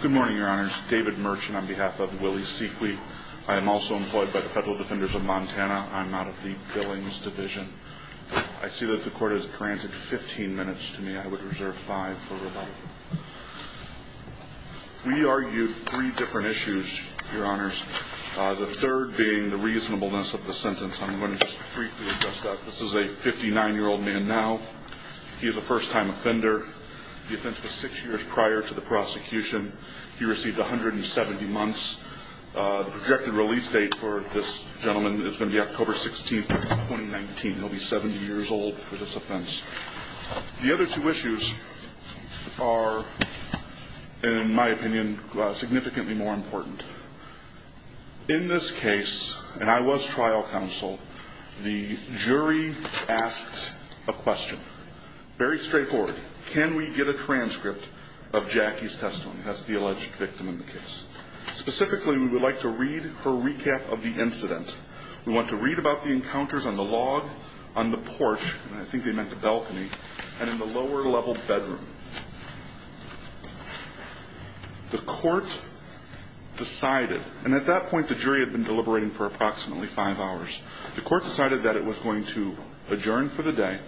Good morning, your honors. David Merchant on behalf of Willie Sequi. I am also employed by the Federal Defenders of Montana. I'm out of the Billings Division. I see that the court has granted 15 minutes to me. I would reserve 5 for rebuttal. We argued three different issues, your honors. The third being the reasonableness of the sentence. I'm going to just briefly address that. This is a 59-year-old man now. He is a first-time offender. The offense was six years prior to the prosecution. He received 170 months. The projected release date for this gentleman is going to be October 16, 2019. He'll be 70 years old for this offense. The other two issues are, in my opinion, significantly more important. In this case, and I was trial counsel, the jury asked a question. Very straightforward. Can we get a transcript of Jackie's testimony? That's the alleged victim in the case. Specifically, we would like to read her recap of the incident. We want to read about the encounters on the log, on the porch, and I think they meant the balcony, and in the lower-level bedroom. The court decided, and at that point the jury had been deliberating for approximately five hours, the court decided that it was going to adjourn for the day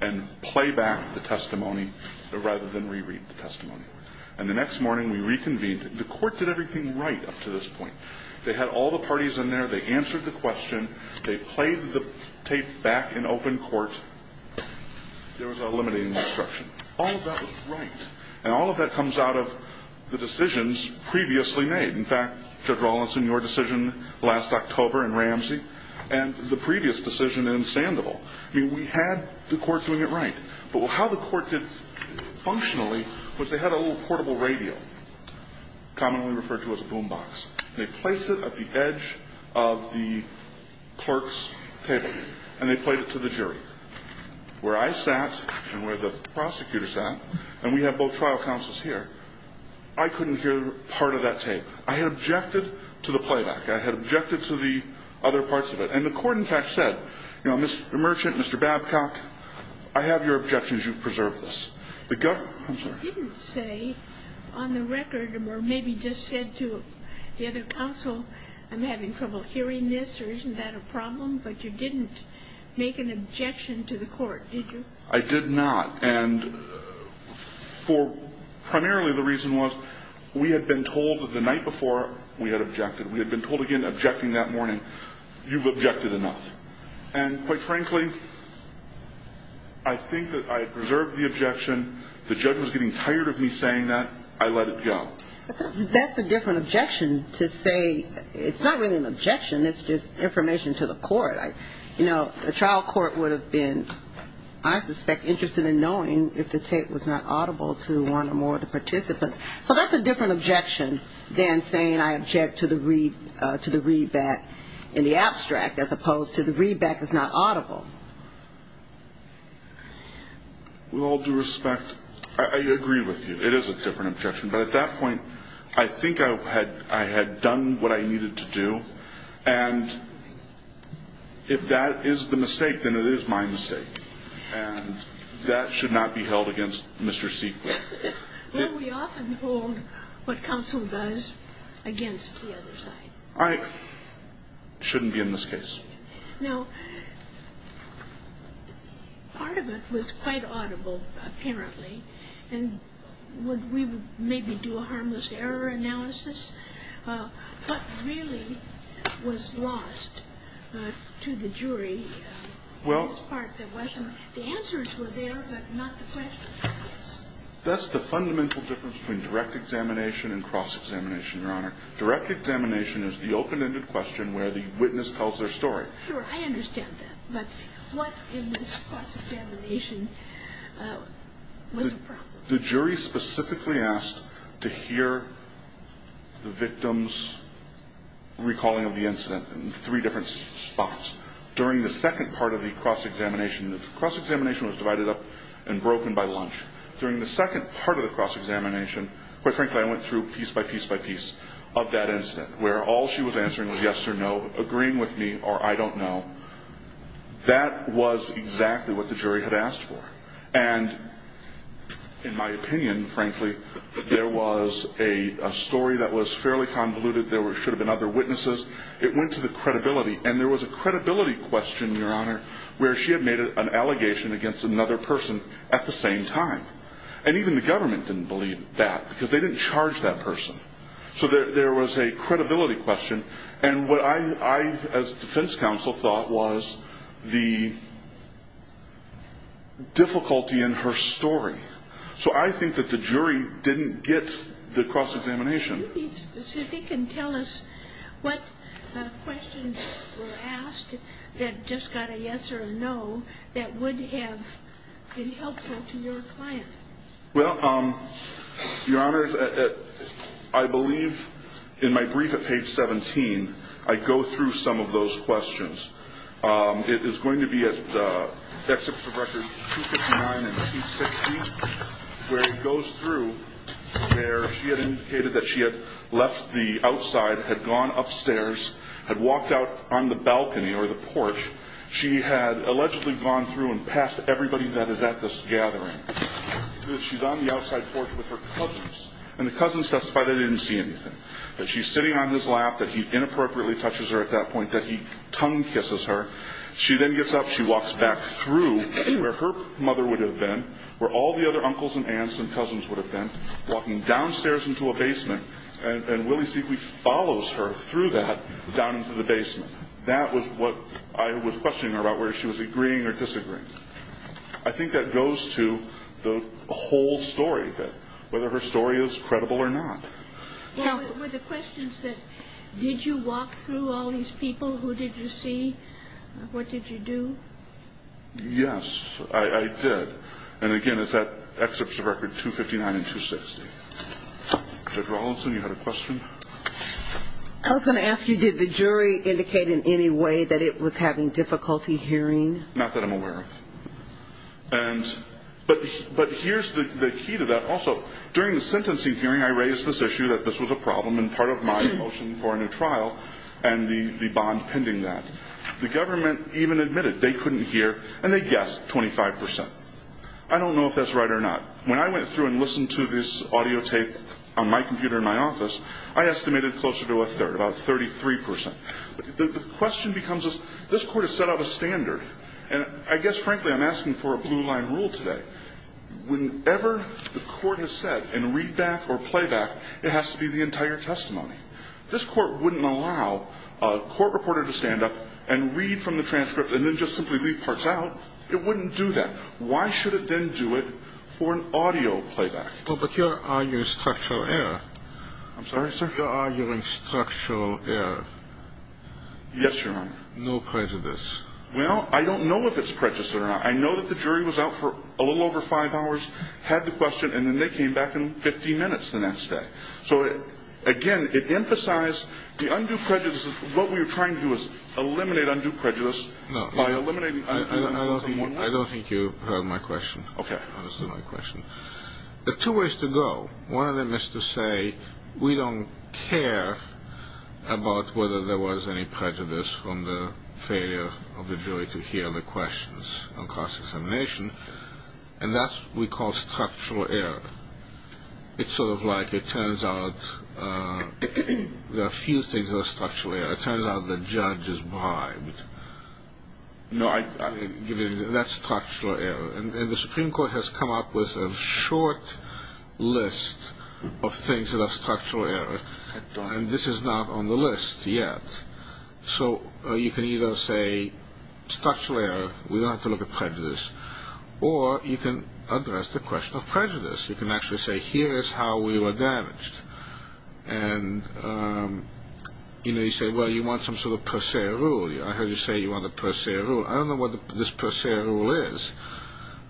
and play back the testimony rather than reread the testimony. And the next morning, we reconvened. The court did everything right up to this point. They had all the parties in there. They answered the question. They played the tape back in open court. There was a limiting instruction. All of that was right. And all of that comes out of the decisions previously made. In fact, Judge Rawlinson, your decision last October in Ramsey, and the previous decision in Sandoval, we had the court doing it right. But how the court did functionally was they had a little portable radio, commonly referred to as a boom box. They placed it at the edge of the clerk's table, and they played it to the jury. And the court, where I sat and where the prosecutor sat, and we have both trial counsels here, I couldn't hear part of that tape. I had objected to the playback. I had objected to the other parts of it. And the court, in fact, said, you know, Mr. Merchant, Mr. Babcock, I have your objections. You've preserved this. The government, I'm sorry. You didn't say on the record, or maybe just said to the other counsel, I'm having trouble hearing this, or isn't that a problem? But you didn't make an objection to the court, did you? I did not. And primarily the reason was we had been told the night before we had objected. We had been told again, objecting that morning, you've objected enough. And quite frankly, I think that I preserved the objection. The judge was getting tired of me saying that. I let it go. But that's a different objection to say, it's not really an objection. It's just information to the court. You know, the trial court would have been, I suspect, interested in knowing if the tape was not audible to one or more of the participants. So that's a different objection than saying I object to the readback in the abstract, as opposed to the readback is not audible. With all due respect, I agree with you. It is a different objection. But at that point, I think I had done what I needed to do. And if that is the mistake, then it is my mistake. And that should not be held against Mr. Seekler. Well, we often hold what counsel does against the other side. I shouldn't be in this case. Now, part of it was quite audible, apparently. And would we maybe do a harmless error analysis? What really was lost to the jury in this part that wasn't? The answers were there, but not the questions. That's the fundamental difference between direct examination and cross-examination, Your Honor. Direct examination is the open-ended question where the witness tells their story. Sure, I understand that. But what in this cross-examination was a problem? The jury specifically asked to hear the victim's recalling of the incident in three different spots. During the second part of the cross-examination, the cross-examination was divided up and broken by lunch. During the second part of the cross-examination, quite frankly, I went through piece by piece by piece of that incident, where all she was answering was yes or no, agreeing with me or I don't know. That was exactly what the jury had asked for. And in my opinion, frankly, there was a story that was fairly convoluted. There should have been other witnesses. It went to the credibility. And there was a credibility question, Your Honor, where she had made an allegation against another person at the same time. And even the government didn't believe that because they didn't charge that person. So there was a credibility question. And what I, as defense counsel, thought was the difficulty in her story. So I think that the jury didn't get the cross-examination. Can you be specific and tell us what questions were asked that just got a yes or a no that would have been helpful to your client? Well, Your Honor, I believe in my brief at page 17, I go through some of those questions. It is going to be at Exhibits of Records 259 and 260, where it goes through where she had indicated that she had left the outside, had gone upstairs, had walked out on the balcony or the porch. She had allegedly gone through and passed everybody that is at this gathering. She's on the outside porch with her cousins. And the cousins testify they didn't see anything. That she's sitting on his lap, that he inappropriately touches her at that point, that he tongue-kisses her. She then gets up. She walks back through where her mother would have been, where all the other uncles and aunts and cousins would have been, walking downstairs into a basement. And Willie Siecki follows her through that down into the basement. That was what I was questioning her about, whether she was agreeing or disagreeing. I think that goes to the whole story, whether her story is credible or not. Were the questions that, did you walk through all these people? Who did you see? What did you do? Yes, I did. And again, it's at Exhibits of Records 259 and 260. Judge Rawlinson, you had a question? I was going to ask you, did the jury indicate in any way that it was having difficulty hearing? Not that I'm aware of. But here's the key to that. Also, during the sentencing hearing, I raised this issue that this was a problem and part of my motion for a new trial and the bond pending that. The government even admitted they couldn't hear, and they guessed 25%. I don't know if that's right or not. When I went through and listened to this audio tape on my computer in my office, I estimated closer to a third, about 33%. The question becomes, this court has set out a standard. And I guess, frankly, I'm asking for a blue line rule today. Whenever the court has said in readback or playback, it has to be the entire testimony. This court wouldn't allow a court reporter to stand up and read from the transcript and then just simply leave parts out. It wouldn't do that. Why should it then do it for an audio playback? But you're arguing structural error. I'm sorry, sir? You're arguing structural error. Yes, Your Honor. No prejudice. Well, I don't know if it's prejudice or not. I know that the jury was out for a little over five hours, had the question, and then they came back in 50 minutes the next day. So, again, it emphasized the undue prejudice. What we were trying to do was eliminate undue prejudice by eliminating prejudice. I don't think you heard my question. Okay. I understood my question. There are two ways to go. One of them is to say we don't care about whether there was any prejudice from the failure of the jury to hear the questions on cross-examination. And that's what we call structural error. It's sort of like it turns out there are a few things that are structural error. It turns out the judge is bribed. No, that's structural error. And the Supreme Court has come up with a short list of things that are structural error, and this is not on the list yet. So you can either say structural error, we don't have to look at prejudice, or you can address the question of prejudice. You can actually say here is how we were damaged. And, you know, you say, well, you want some sort of per se rule. I heard you say you want a per se rule. I don't know what this per se rule is.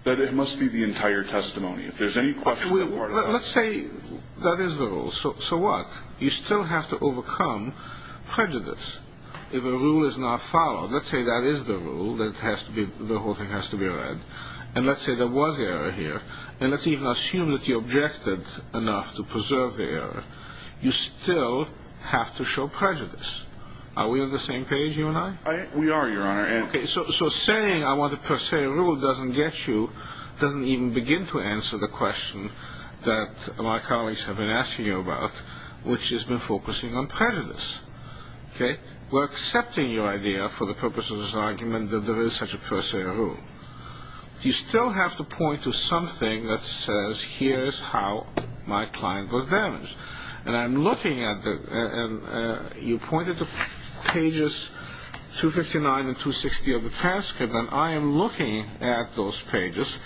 It must be the entire testimony. If there's any question that we're left with. Let's say that is the rule. So what? You still have to overcome prejudice. If a rule is not followed, let's say that is the rule, then the whole thing has to be read. And let's say there was error here. And let's even assume that you objected enough to preserve the error. You still have to show prejudice. Are we on the same page, you and I? We are, Your Honor. So saying I want a per se rule doesn't get you, doesn't even begin to answer the question that my colleagues have been asking you about, which has been focusing on prejudice. We're accepting your idea for the purpose of this argument that there is such a per se rule. You still have to point to something that says here's how my client was damaged. And I'm looking at the, you pointed to pages 259 and 260 of the transcript, and I am looking at those pages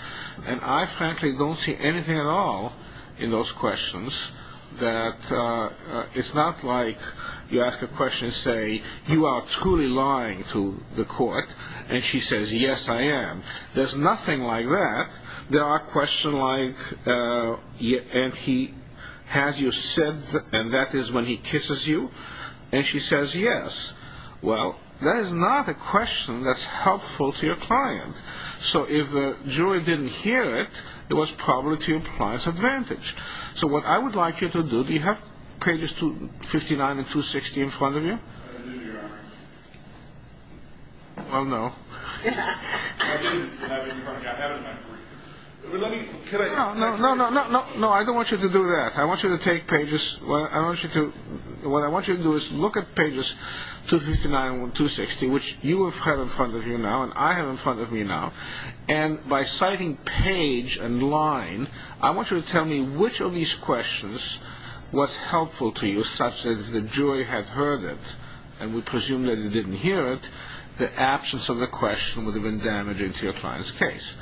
and I frankly don't see anything at all in those questions that it's not like you ask a question and say you are truly lying to the court, and she says, yes, I am. There's nothing like that. There are questions like, and he has you sed, and that is when he kisses you. And she says, yes. Well, that is not a question that's helpful to your client. So if the jury didn't hear it, it was probably to your client's advantage. So what I would like you to do, do you have pages 259 and 260 in front of you? I do, Your Honor. Well, no. No, no, no, I don't want you to do that. I want you to take pages, what I want you to do is look at pages 259 and 260, which you have in front of you now and I have in front of me now, and by citing page and line, I want you to tell me which of these questions was helpful to you, such that if the jury had heard it and would presume that you didn't hear it, the absence of the question would have been damaging to your client's case.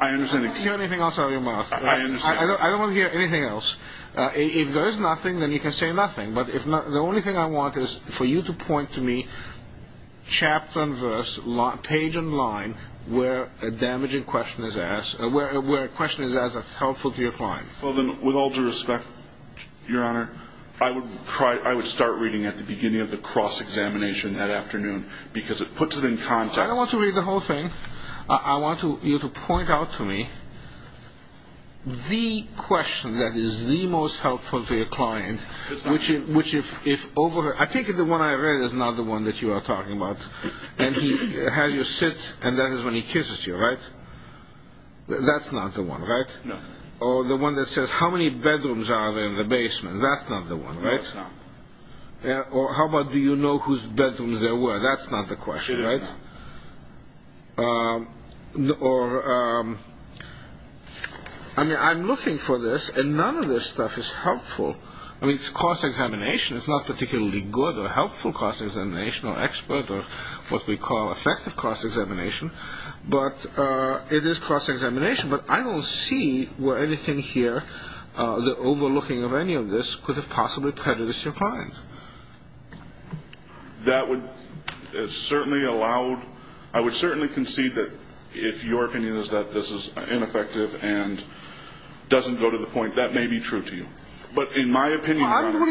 I understand. I don't want to hear anything else out of your mouth. I understand. I don't want to hear anything else. If there is nothing, then you can say nothing, but the only thing I want is for you to point to me chapter and verse, page and line, where a damaging question is asked, where a question is asked that's helpful to your client. Well, then, with all due respect, Your Honor, I would start reading at the beginning of the cross-examination that afternoon, because it puts it in context. I don't want to read the whole thing. I want you to point out to me the question that is the most helpful to your client, which if overheard, I think the one I read is not the one that you are talking about, and he has you sit and that is when he kisses you, right? That's not the one, right? No. Or the one that says, how many bedrooms are there in the basement? That's not the one, right? That's not. Or how about, do you know whose bedrooms there were? That's not the question, right? No. Or, I mean, I'm looking for this, and none of this stuff is helpful. I mean, it's cross-examination. It's not particularly good or helpful cross-examination or expert or what we call effective cross-examination, but it is cross-examination. But I don't see where anything here, the overlooking of any of this, could have possibly prejudiced your client. That would certainly allow – I would certainly concede that if your opinion is that this is ineffective and doesn't go to the point, that may be true to you. But in my opinion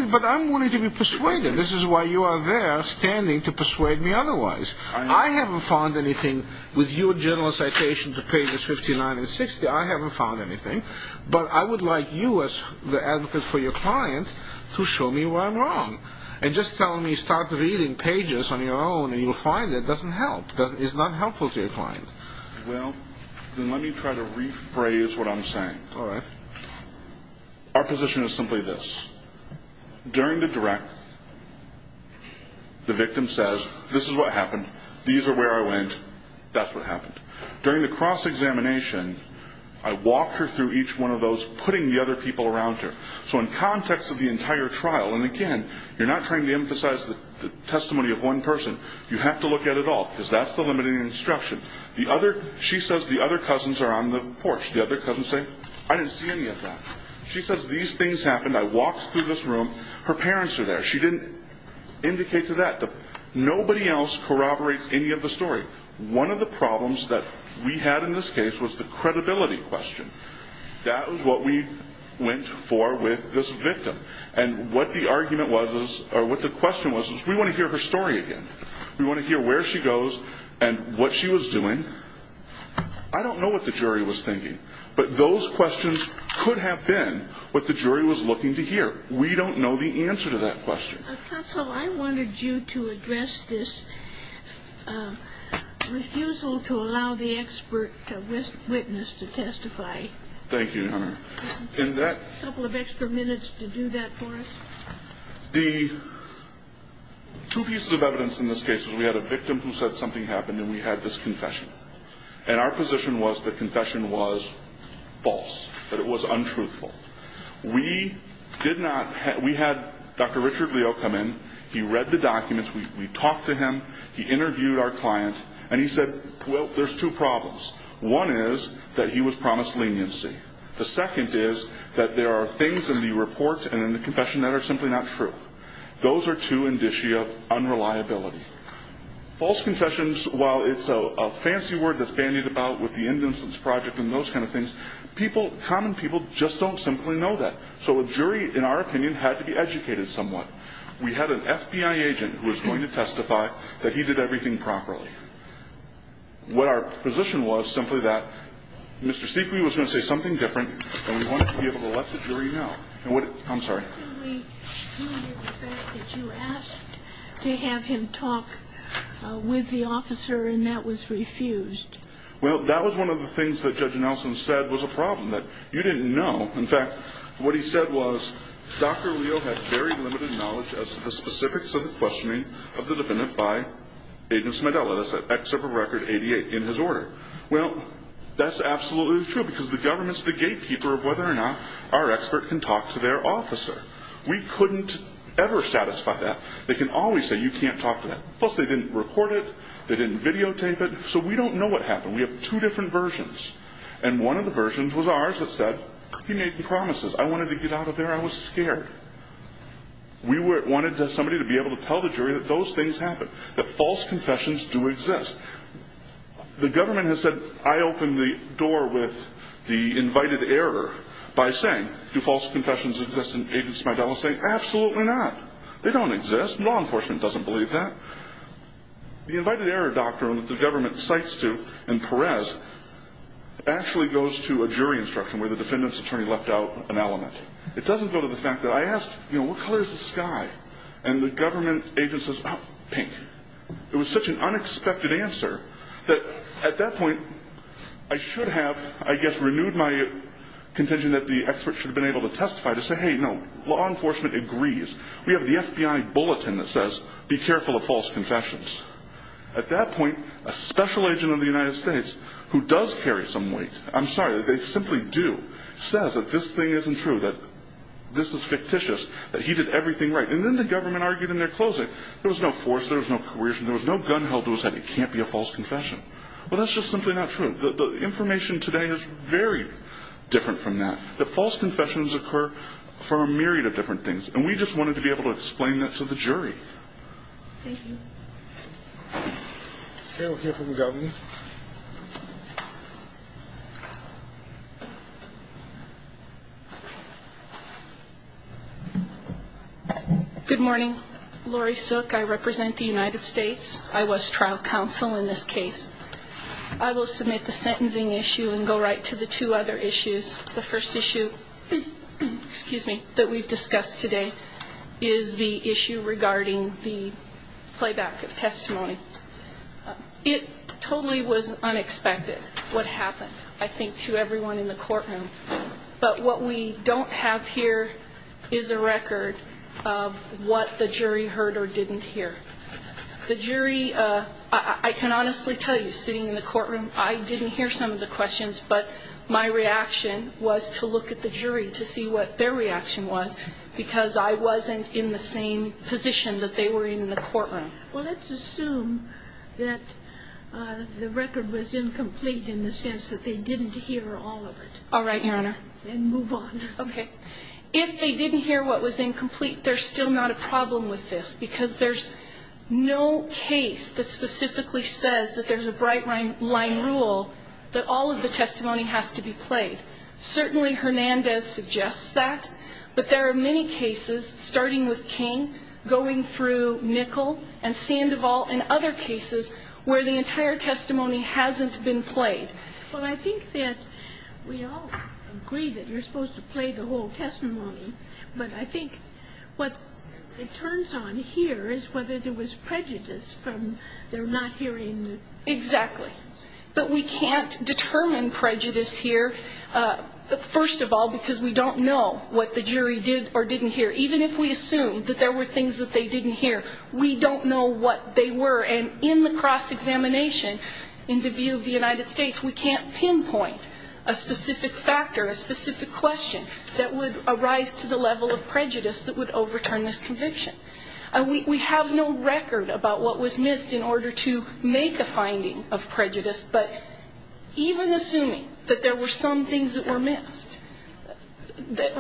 – But I'm wanting to be persuaded. This is why you are there standing to persuade me otherwise. I haven't found anything with your general citation to pages 59 and 60. I haven't found anything. But I would like you as the advocate for your client to show me where I'm wrong. And just telling me start reading pages on your own and you'll find it doesn't help. It's not helpful to your client. Well, then let me try to rephrase what I'm saying. All right. Our position is simply this. During the direct, the victim says, this is what happened, these are where I went, that's what happened. During the cross-examination, I walked her through each one of those, putting the other people around her. So in context of the entire trial, and again, you're not trying to emphasize the testimony of one person. You have to look at it all because that's the limiting instruction. She says the other cousins are on the porch. The other cousins say, I didn't see any of that. She says these things happened. I walked through this room. Her parents are there. She didn't indicate to that. Nobody else corroborates any of the story. One of the problems that we had in this case was the credibility question. That was what we went for with this victim. And what the argument was, or what the question was, was we want to hear her story again. We want to hear where she goes and what she was doing. I don't know what the jury was thinking. But those questions could have been what the jury was looking to hear. We don't know the answer to that question. Counsel, I wanted you to address this refusal to allow the expert witness to testify. Thank you, Your Honor. A couple of extra minutes to do that for us. The two pieces of evidence in this case is we had a victim who said something happened and we had this confession. And our position was the confession was false, that it was untruthful. We did not have – we had Dr. Richard Leo come in. He read the documents. We talked to him. He interviewed our client. And he said, well, there's two problems. One is that he was promised leniency. The second is that there are things in the report and in the confession that are simply not true. Those are two indicia of unreliability. False confessions, while it's a fancy word that's bandied about with the innocence project and those kind of things, people – common people just don't simply know that. So a jury, in our opinion, had to be educated somewhat. We had an FBI agent who was going to testify that he did everything properly. What our position was simply that Mr. Seque was going to say something different and we wanted to be able to let the jury know. And what – I'm sorry. What do we do with the fact that you asked to have him talk with the officer and that was refused? Well, that was one of the things that Judge Nelson said was a problem, that you didn't know. In fact, what he said was, Dr. Leo had very limited knowledge as to the specifics of the questioning of the defendant by Agent Smedella, except for Record 88 in his order. Well, that's absolutely true because the government's the gatekeeper of whether or not our expert can talk to their officer. We couldn't ever satisfy that. They can always say, You can't talk to that. Plus, they didn't record it. They didn't videotape it. So we don't know what happened. We have two different versions. And one of the versions was ours that said, He made the promises. I wanted to get out of there. I was scared. We wanted somebody to be able to tell the jury that those things happened, that false confessions do exist. The government has said, I opened the door with the invited error by saying, Do false confessions exist in Agents Smedella? Saying, Absolutely not. They don't exist. Law enforcement doesn't believe that. The invited error doctrine that the government cites to in Perez actually goes to a jury instruction where the defendant's attorney left out an element. It doesn't go to the fact that I asked, What color is the sky? And the government agent says, Pink. It was such an unexpected answer that, at that point, I should have, I guess, renewed my contention that the expert should have been able to testify to say, Hey, no, law enforcement agrees. We have the FBI bulletin that says, Be careful of false confessions. At that point, a special agent of the United States who does carry some weight, I'm sorry, they simply do, says that this thing isn't true, that this is fictitious, that he did everything right. And then the government argued in their closing, that there was no force, there was no coercion, there was no gun held to his head. It can't be a false confession. Well, that's just simply not true. The information today is very different from that, that false confessions occur from a myriad of different things. And we just wanted to be able to explain that to the jury. Thank you. Okay, we'll hear from the governor. Good morning. Lori Sook, I represent the United States. I was trial counsel in this case. I will submit the sentencing issue and go right to the two other issues. The first issue, excuse me, that we've discussed today, is the issue regarding the playback of testimony. It totally was unexpected what happened, I think, to everyone in the courtroom. But what we don't have here is a record of what the jury heard or didn't hear. The jury, I can honestly tell you, sitting in the courtroom, I didn't hear some of the questions, but my reaction was to look at the jury to see what their reaction was, because I wasn't in the same position that they were in in the courtroom. Well, let's assume that the record was incomplete in the sense that they didn't hear all of it. All right, Your Honor. Then move on. Okay. If they didn't hear what was incomplete, there's still not a problem with this, because there's no case that specifically says that there's a bright-line rule that all of the testimony has to be played. Certainly Hernandez suggests that, but there are many cases, starting with King, going through Nickel, and Sandoval, and other cases where the entire testimony hasn't been played. Well, I think that we all agree that you're supposed to play the whole testimony, but I think what it turns on here is whether there was prejudice from their not hearing it. Exactly. But we can't determine prejudice here, first of all, because we don't know what the jury did or didn't hear. Even if we assume that there were things that they didn't hear, we don't know what they were. And in the cross-examination, in the view of the United States, we can't pinpoint a specific factor, a specific question, that would arise to the level of prejudice that would overturn this conviction. We have no record about what was missed in order to make a finding of prejudice, but even assuming that there were some things that were missed,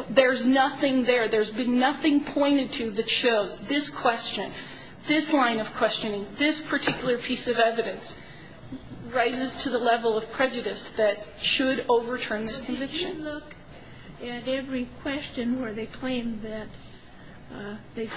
there's nothing there. There's been nothing pointed to that shows this question, this line of questioning, this particular piece of evidence rises to the level of prejudice that should overturn this conviction. But did you look at every question where they claimed that they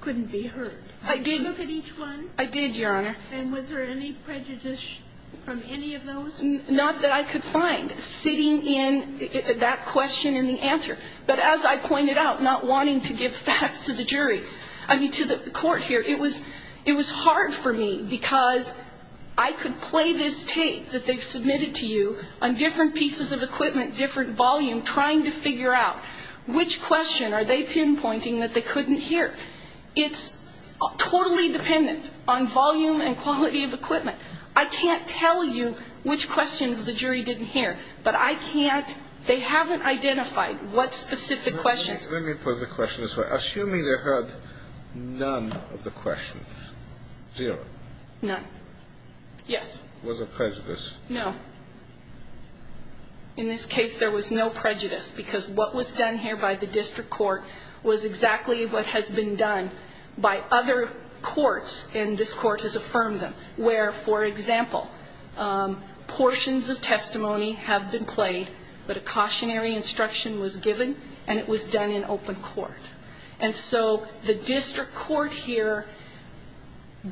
couldn't be heard? I did. Did you look at each one? I did, Your Honor. And was there any prejudice from any of those? Not that I could find, sitting in that question and the answer. But as I pointed out, not wanting to give facts to the jury, I mean, to the court here, it was hard for me because I could play this tape that they've submitted to you on different pieces of equipment, different volume, trying to figure out which question are they pinpointing that they couldn't hear. It's totally dependent on volume and quality of equipment. I can't tell you which questions the jury didn't hear, but I can't. They haven't identified what specific questions. Let me put the question this way. Assuming they heard none of the questions, zero. None. Yes. Was there prejudice? No. In this case, there was no prejudice because what was done here by the district court was exactly what has been done by other courts, and this court has affirmed them, where, for example, portions of testimony have been played, but a cautionary instruction was given, and it was done in open court. And so the district court here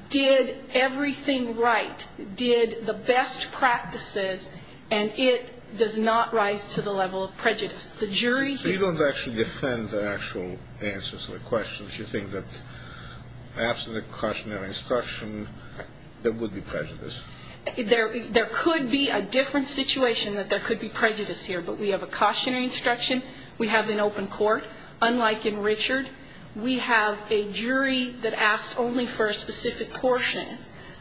did everything right, did the best practices, and it does not rise to the level of prejudice. The jury here ---- So you don't actually defend the actual answers to the questions. You think that after the cautionary instruction, there would be prejudice. There could be a different situation that there could be prejudice here, but we have a cautionary instruction. We have an open court. Unlike in Richard, we have a jury that asked only for a specific portion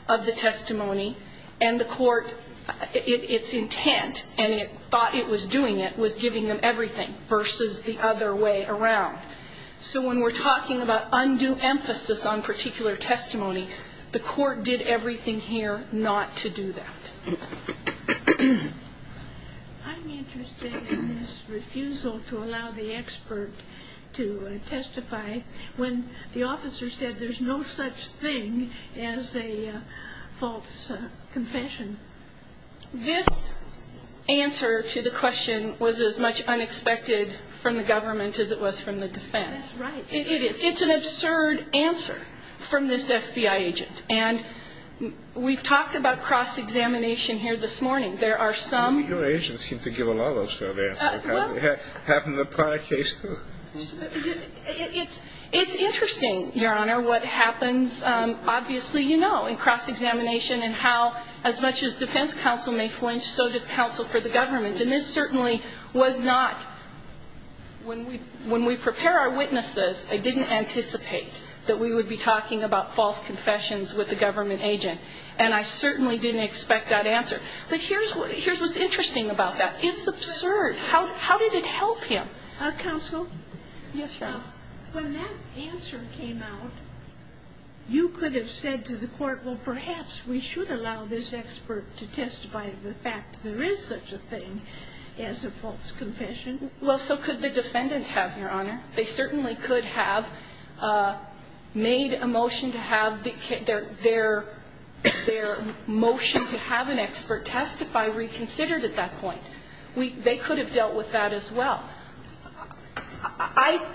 of the testimony, and the court, its intent, and it thought it was doing it, was giving them everything versus the other way around. So when we're talking about undue emphasis on particular testimony, the court did everything here not to do that. I'm interested in this refusal to allow the expert to testify when the officer said there's no such thing as a false confession. This answer to the question was as much unexpected from the government as it was from the defense. That's right. It is. It's an absurd answer from this FBI agent, and we've talked about cross-examination here this morning. There are some ---- Your agents seem to give a lot of those sort of answers. Well ---- Happened in the prior case, too. It's interesting, Your Honor, what happens. Obviously, you know, in cross-examination and how as much as defense counsel may flinch, so does counsel for the government. And this certainly was not ---- When we prepare our witnesses, I didn't anticipate that we would be talking about false confessions with a government agent, and I certainly didn't expect that answer. But here's what's interesting about that. It's absurd. How did it help him? Counsel? Yes, Your Honor. When that answer came out, you could have said to the court, well, perhaps we should allow this expert to testify to the fact that there is such a thing as a false confession. Well, so could the defendant have, Your Honor. They certainly could have made a motion to have their motion to have an expert testify reconsidered at that point. They could have dealt with that as well.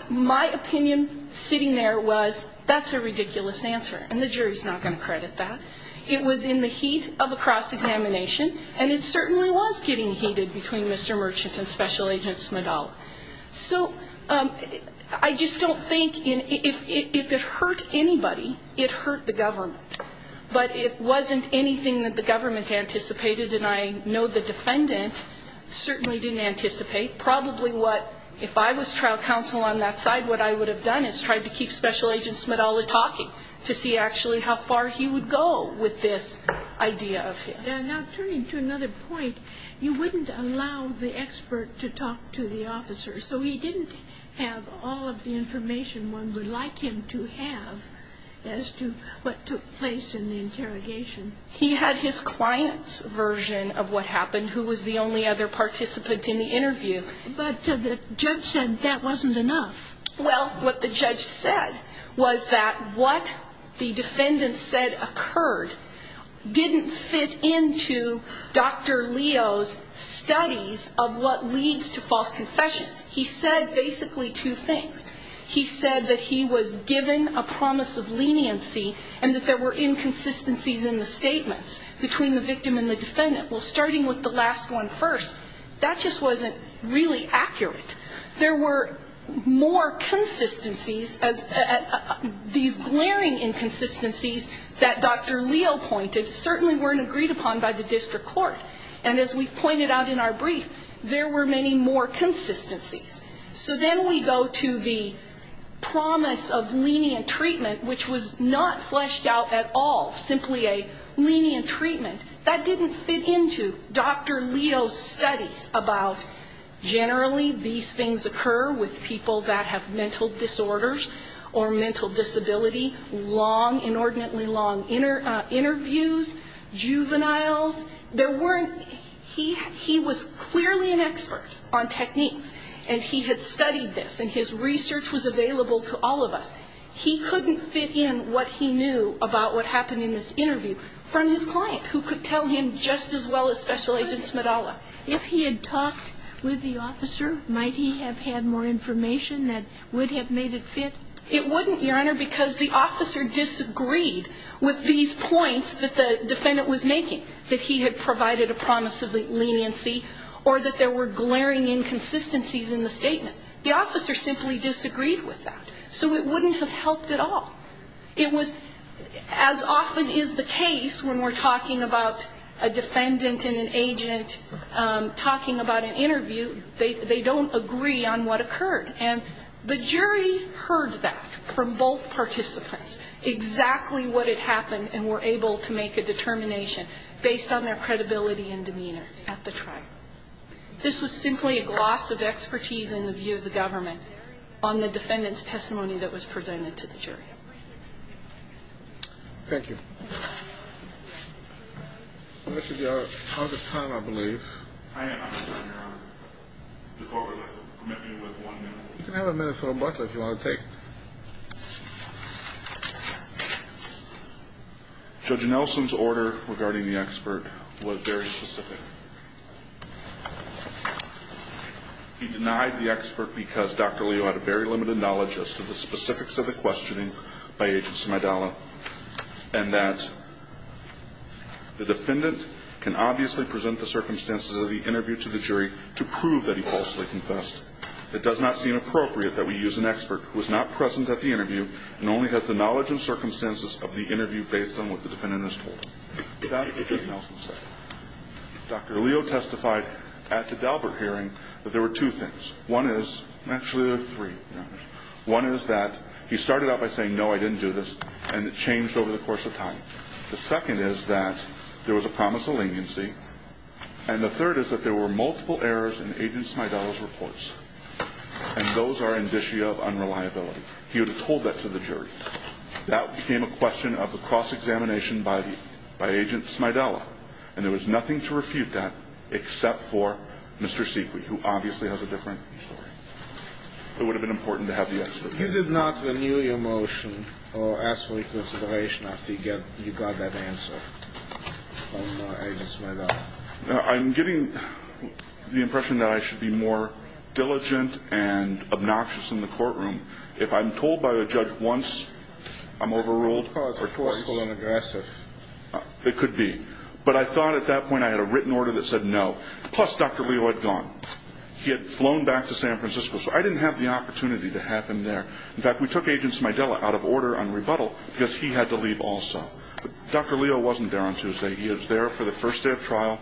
My opinion sitting there was that's a ridiculous answer, and the jury's not going to credit that. It was in the heat of a cross-examination, and it certainly was getting heated between Mr. Merchant and Special Agent Smedell. So I just don't think if it hurt anybody, it hurt the government. But it wasn't anything that the government anticipated, and I know the defendant certainly didn't anticipate. Probably what, if I was trial counsel on that side, what I would have done is tried to keep Special Agent Smedell talking to see actually how far he would go with this idea of his. Now, turning to another point, you wouldn't allow the expert to talk to the officer. So he didn't have all of the information one would like him to have as to what took place in the interrogation. He had his client's version of what happened, who was the only other participant in the interview. But the judge said that wasn't enough. Well, what the judge said was that what the defendant said occurred didn't fit into Dr. Leo's studies of what leads to false confessions. He said basically two things. He said that he was given a promise of leniency and that there were inconsistencies in the statements between the victim and the defendant. Well, starting with the last one first, that just wasn't really accurate. There were more consistencies, these glaring inconsistencies that Dr. Leo pointed, certainly weren't agreed upon by the district court. And as we've pointed out in our brief, there were many more consistencies. So then we go to the promise of lenient treatment, which was not fleshed out at all, simply a lenient treatment. That didn't fit into Dr. Leo's studies about generally these things occur with people that have mental disorders or mental disability, long, inordinately long interviews, juveniles. He was clearly an expert on techniques, and he had studied this, and his research was available to all of us. He couldn't fit in what he knew about what happened in this interview from his client, who could tell him just as well as Special Agent Smidala. If he had talked with the officer, might he have had more information that would have made it fit? It wouldn't, Your Honor, because the officer disagreed with these points that the defendant was making, that he had provided a promise of leniency, or that there were glaring inconsistencies in the statement. The officer simply disagreed with that. So it wouldn't have helped at all. It was, as often is the case when we're talking about a defendant and an agent talking about an interview, they don't agree on what occurred. And the jury heard that from both participants, exactly what had happened, and were able to make a determination based on their credibility and demeanor at the trial. This was simply a gloss of expertise in the view of the government on the defendant's testimony that was presented to the jury. Thank you. Unless you're out of time, I believe. I am out of time, Your Honor. The court would like to permit me with one minute. You can have a minute for a butler if you want to take it. Judge Nelson's order regarding the expert was very specific. He denied the expert because Dr. Leo had a very limited knowledge as to the specifics of the questioning by Agent Smidalla, and that the defendant can obviously present the circumstances of the interview to the jury to prove that he falsely confessed. It does not seem appropriate that we use an expert who is not present at the interview and only has the knowledge and circumstances of the interview based on what the defendant has told him. Is that what Judge Nelson said? Dr. Leo testified at the Dalbert hearing that there were two things. One is, actually there are three, Your Honor. One is that he started out by saying, no, I didn't do this, and it changed over the course of time. The second is that there was a promise of leniency. And the third is that there were multiple errors in Agent Smidalla's reports, and those are indicia of unreliability. He would have told that to the jury. That became a question of a cross-examination by the – by Agent Smidalla, and there was nothing to refute that except for Mr. Seekley, who obviously has a different story. It would have been important to have the expert. You did not renew your motion or ask for reconsideration after you got that answer from Agent Smidalla? I'm getting the impression that I should be more diligent and obnoxious in the courtroom. If I'm told by a judge once, I'm overruled. Because it's forceful and aggressive. It could be. But I thought at that point I had a written order that said no, plus Dr. Leo had gone. He had flown back to San Francisco. So I didn't have the opportunity to have him there. In fact, we took Agent Smidalla out of order on rebuttal because he had to leave also. But Dr. Leo wasn't there on Tuesday. He was there for the first day of trial.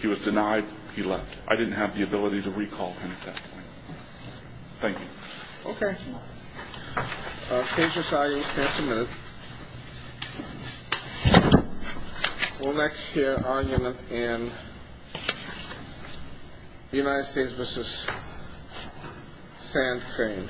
He was denied. He left. I didn't have the ability to recall him at that point. Thank you. Okay. Case resolved. You'll stand for a minute. We'll next hear argument in United States v. Sand Crane.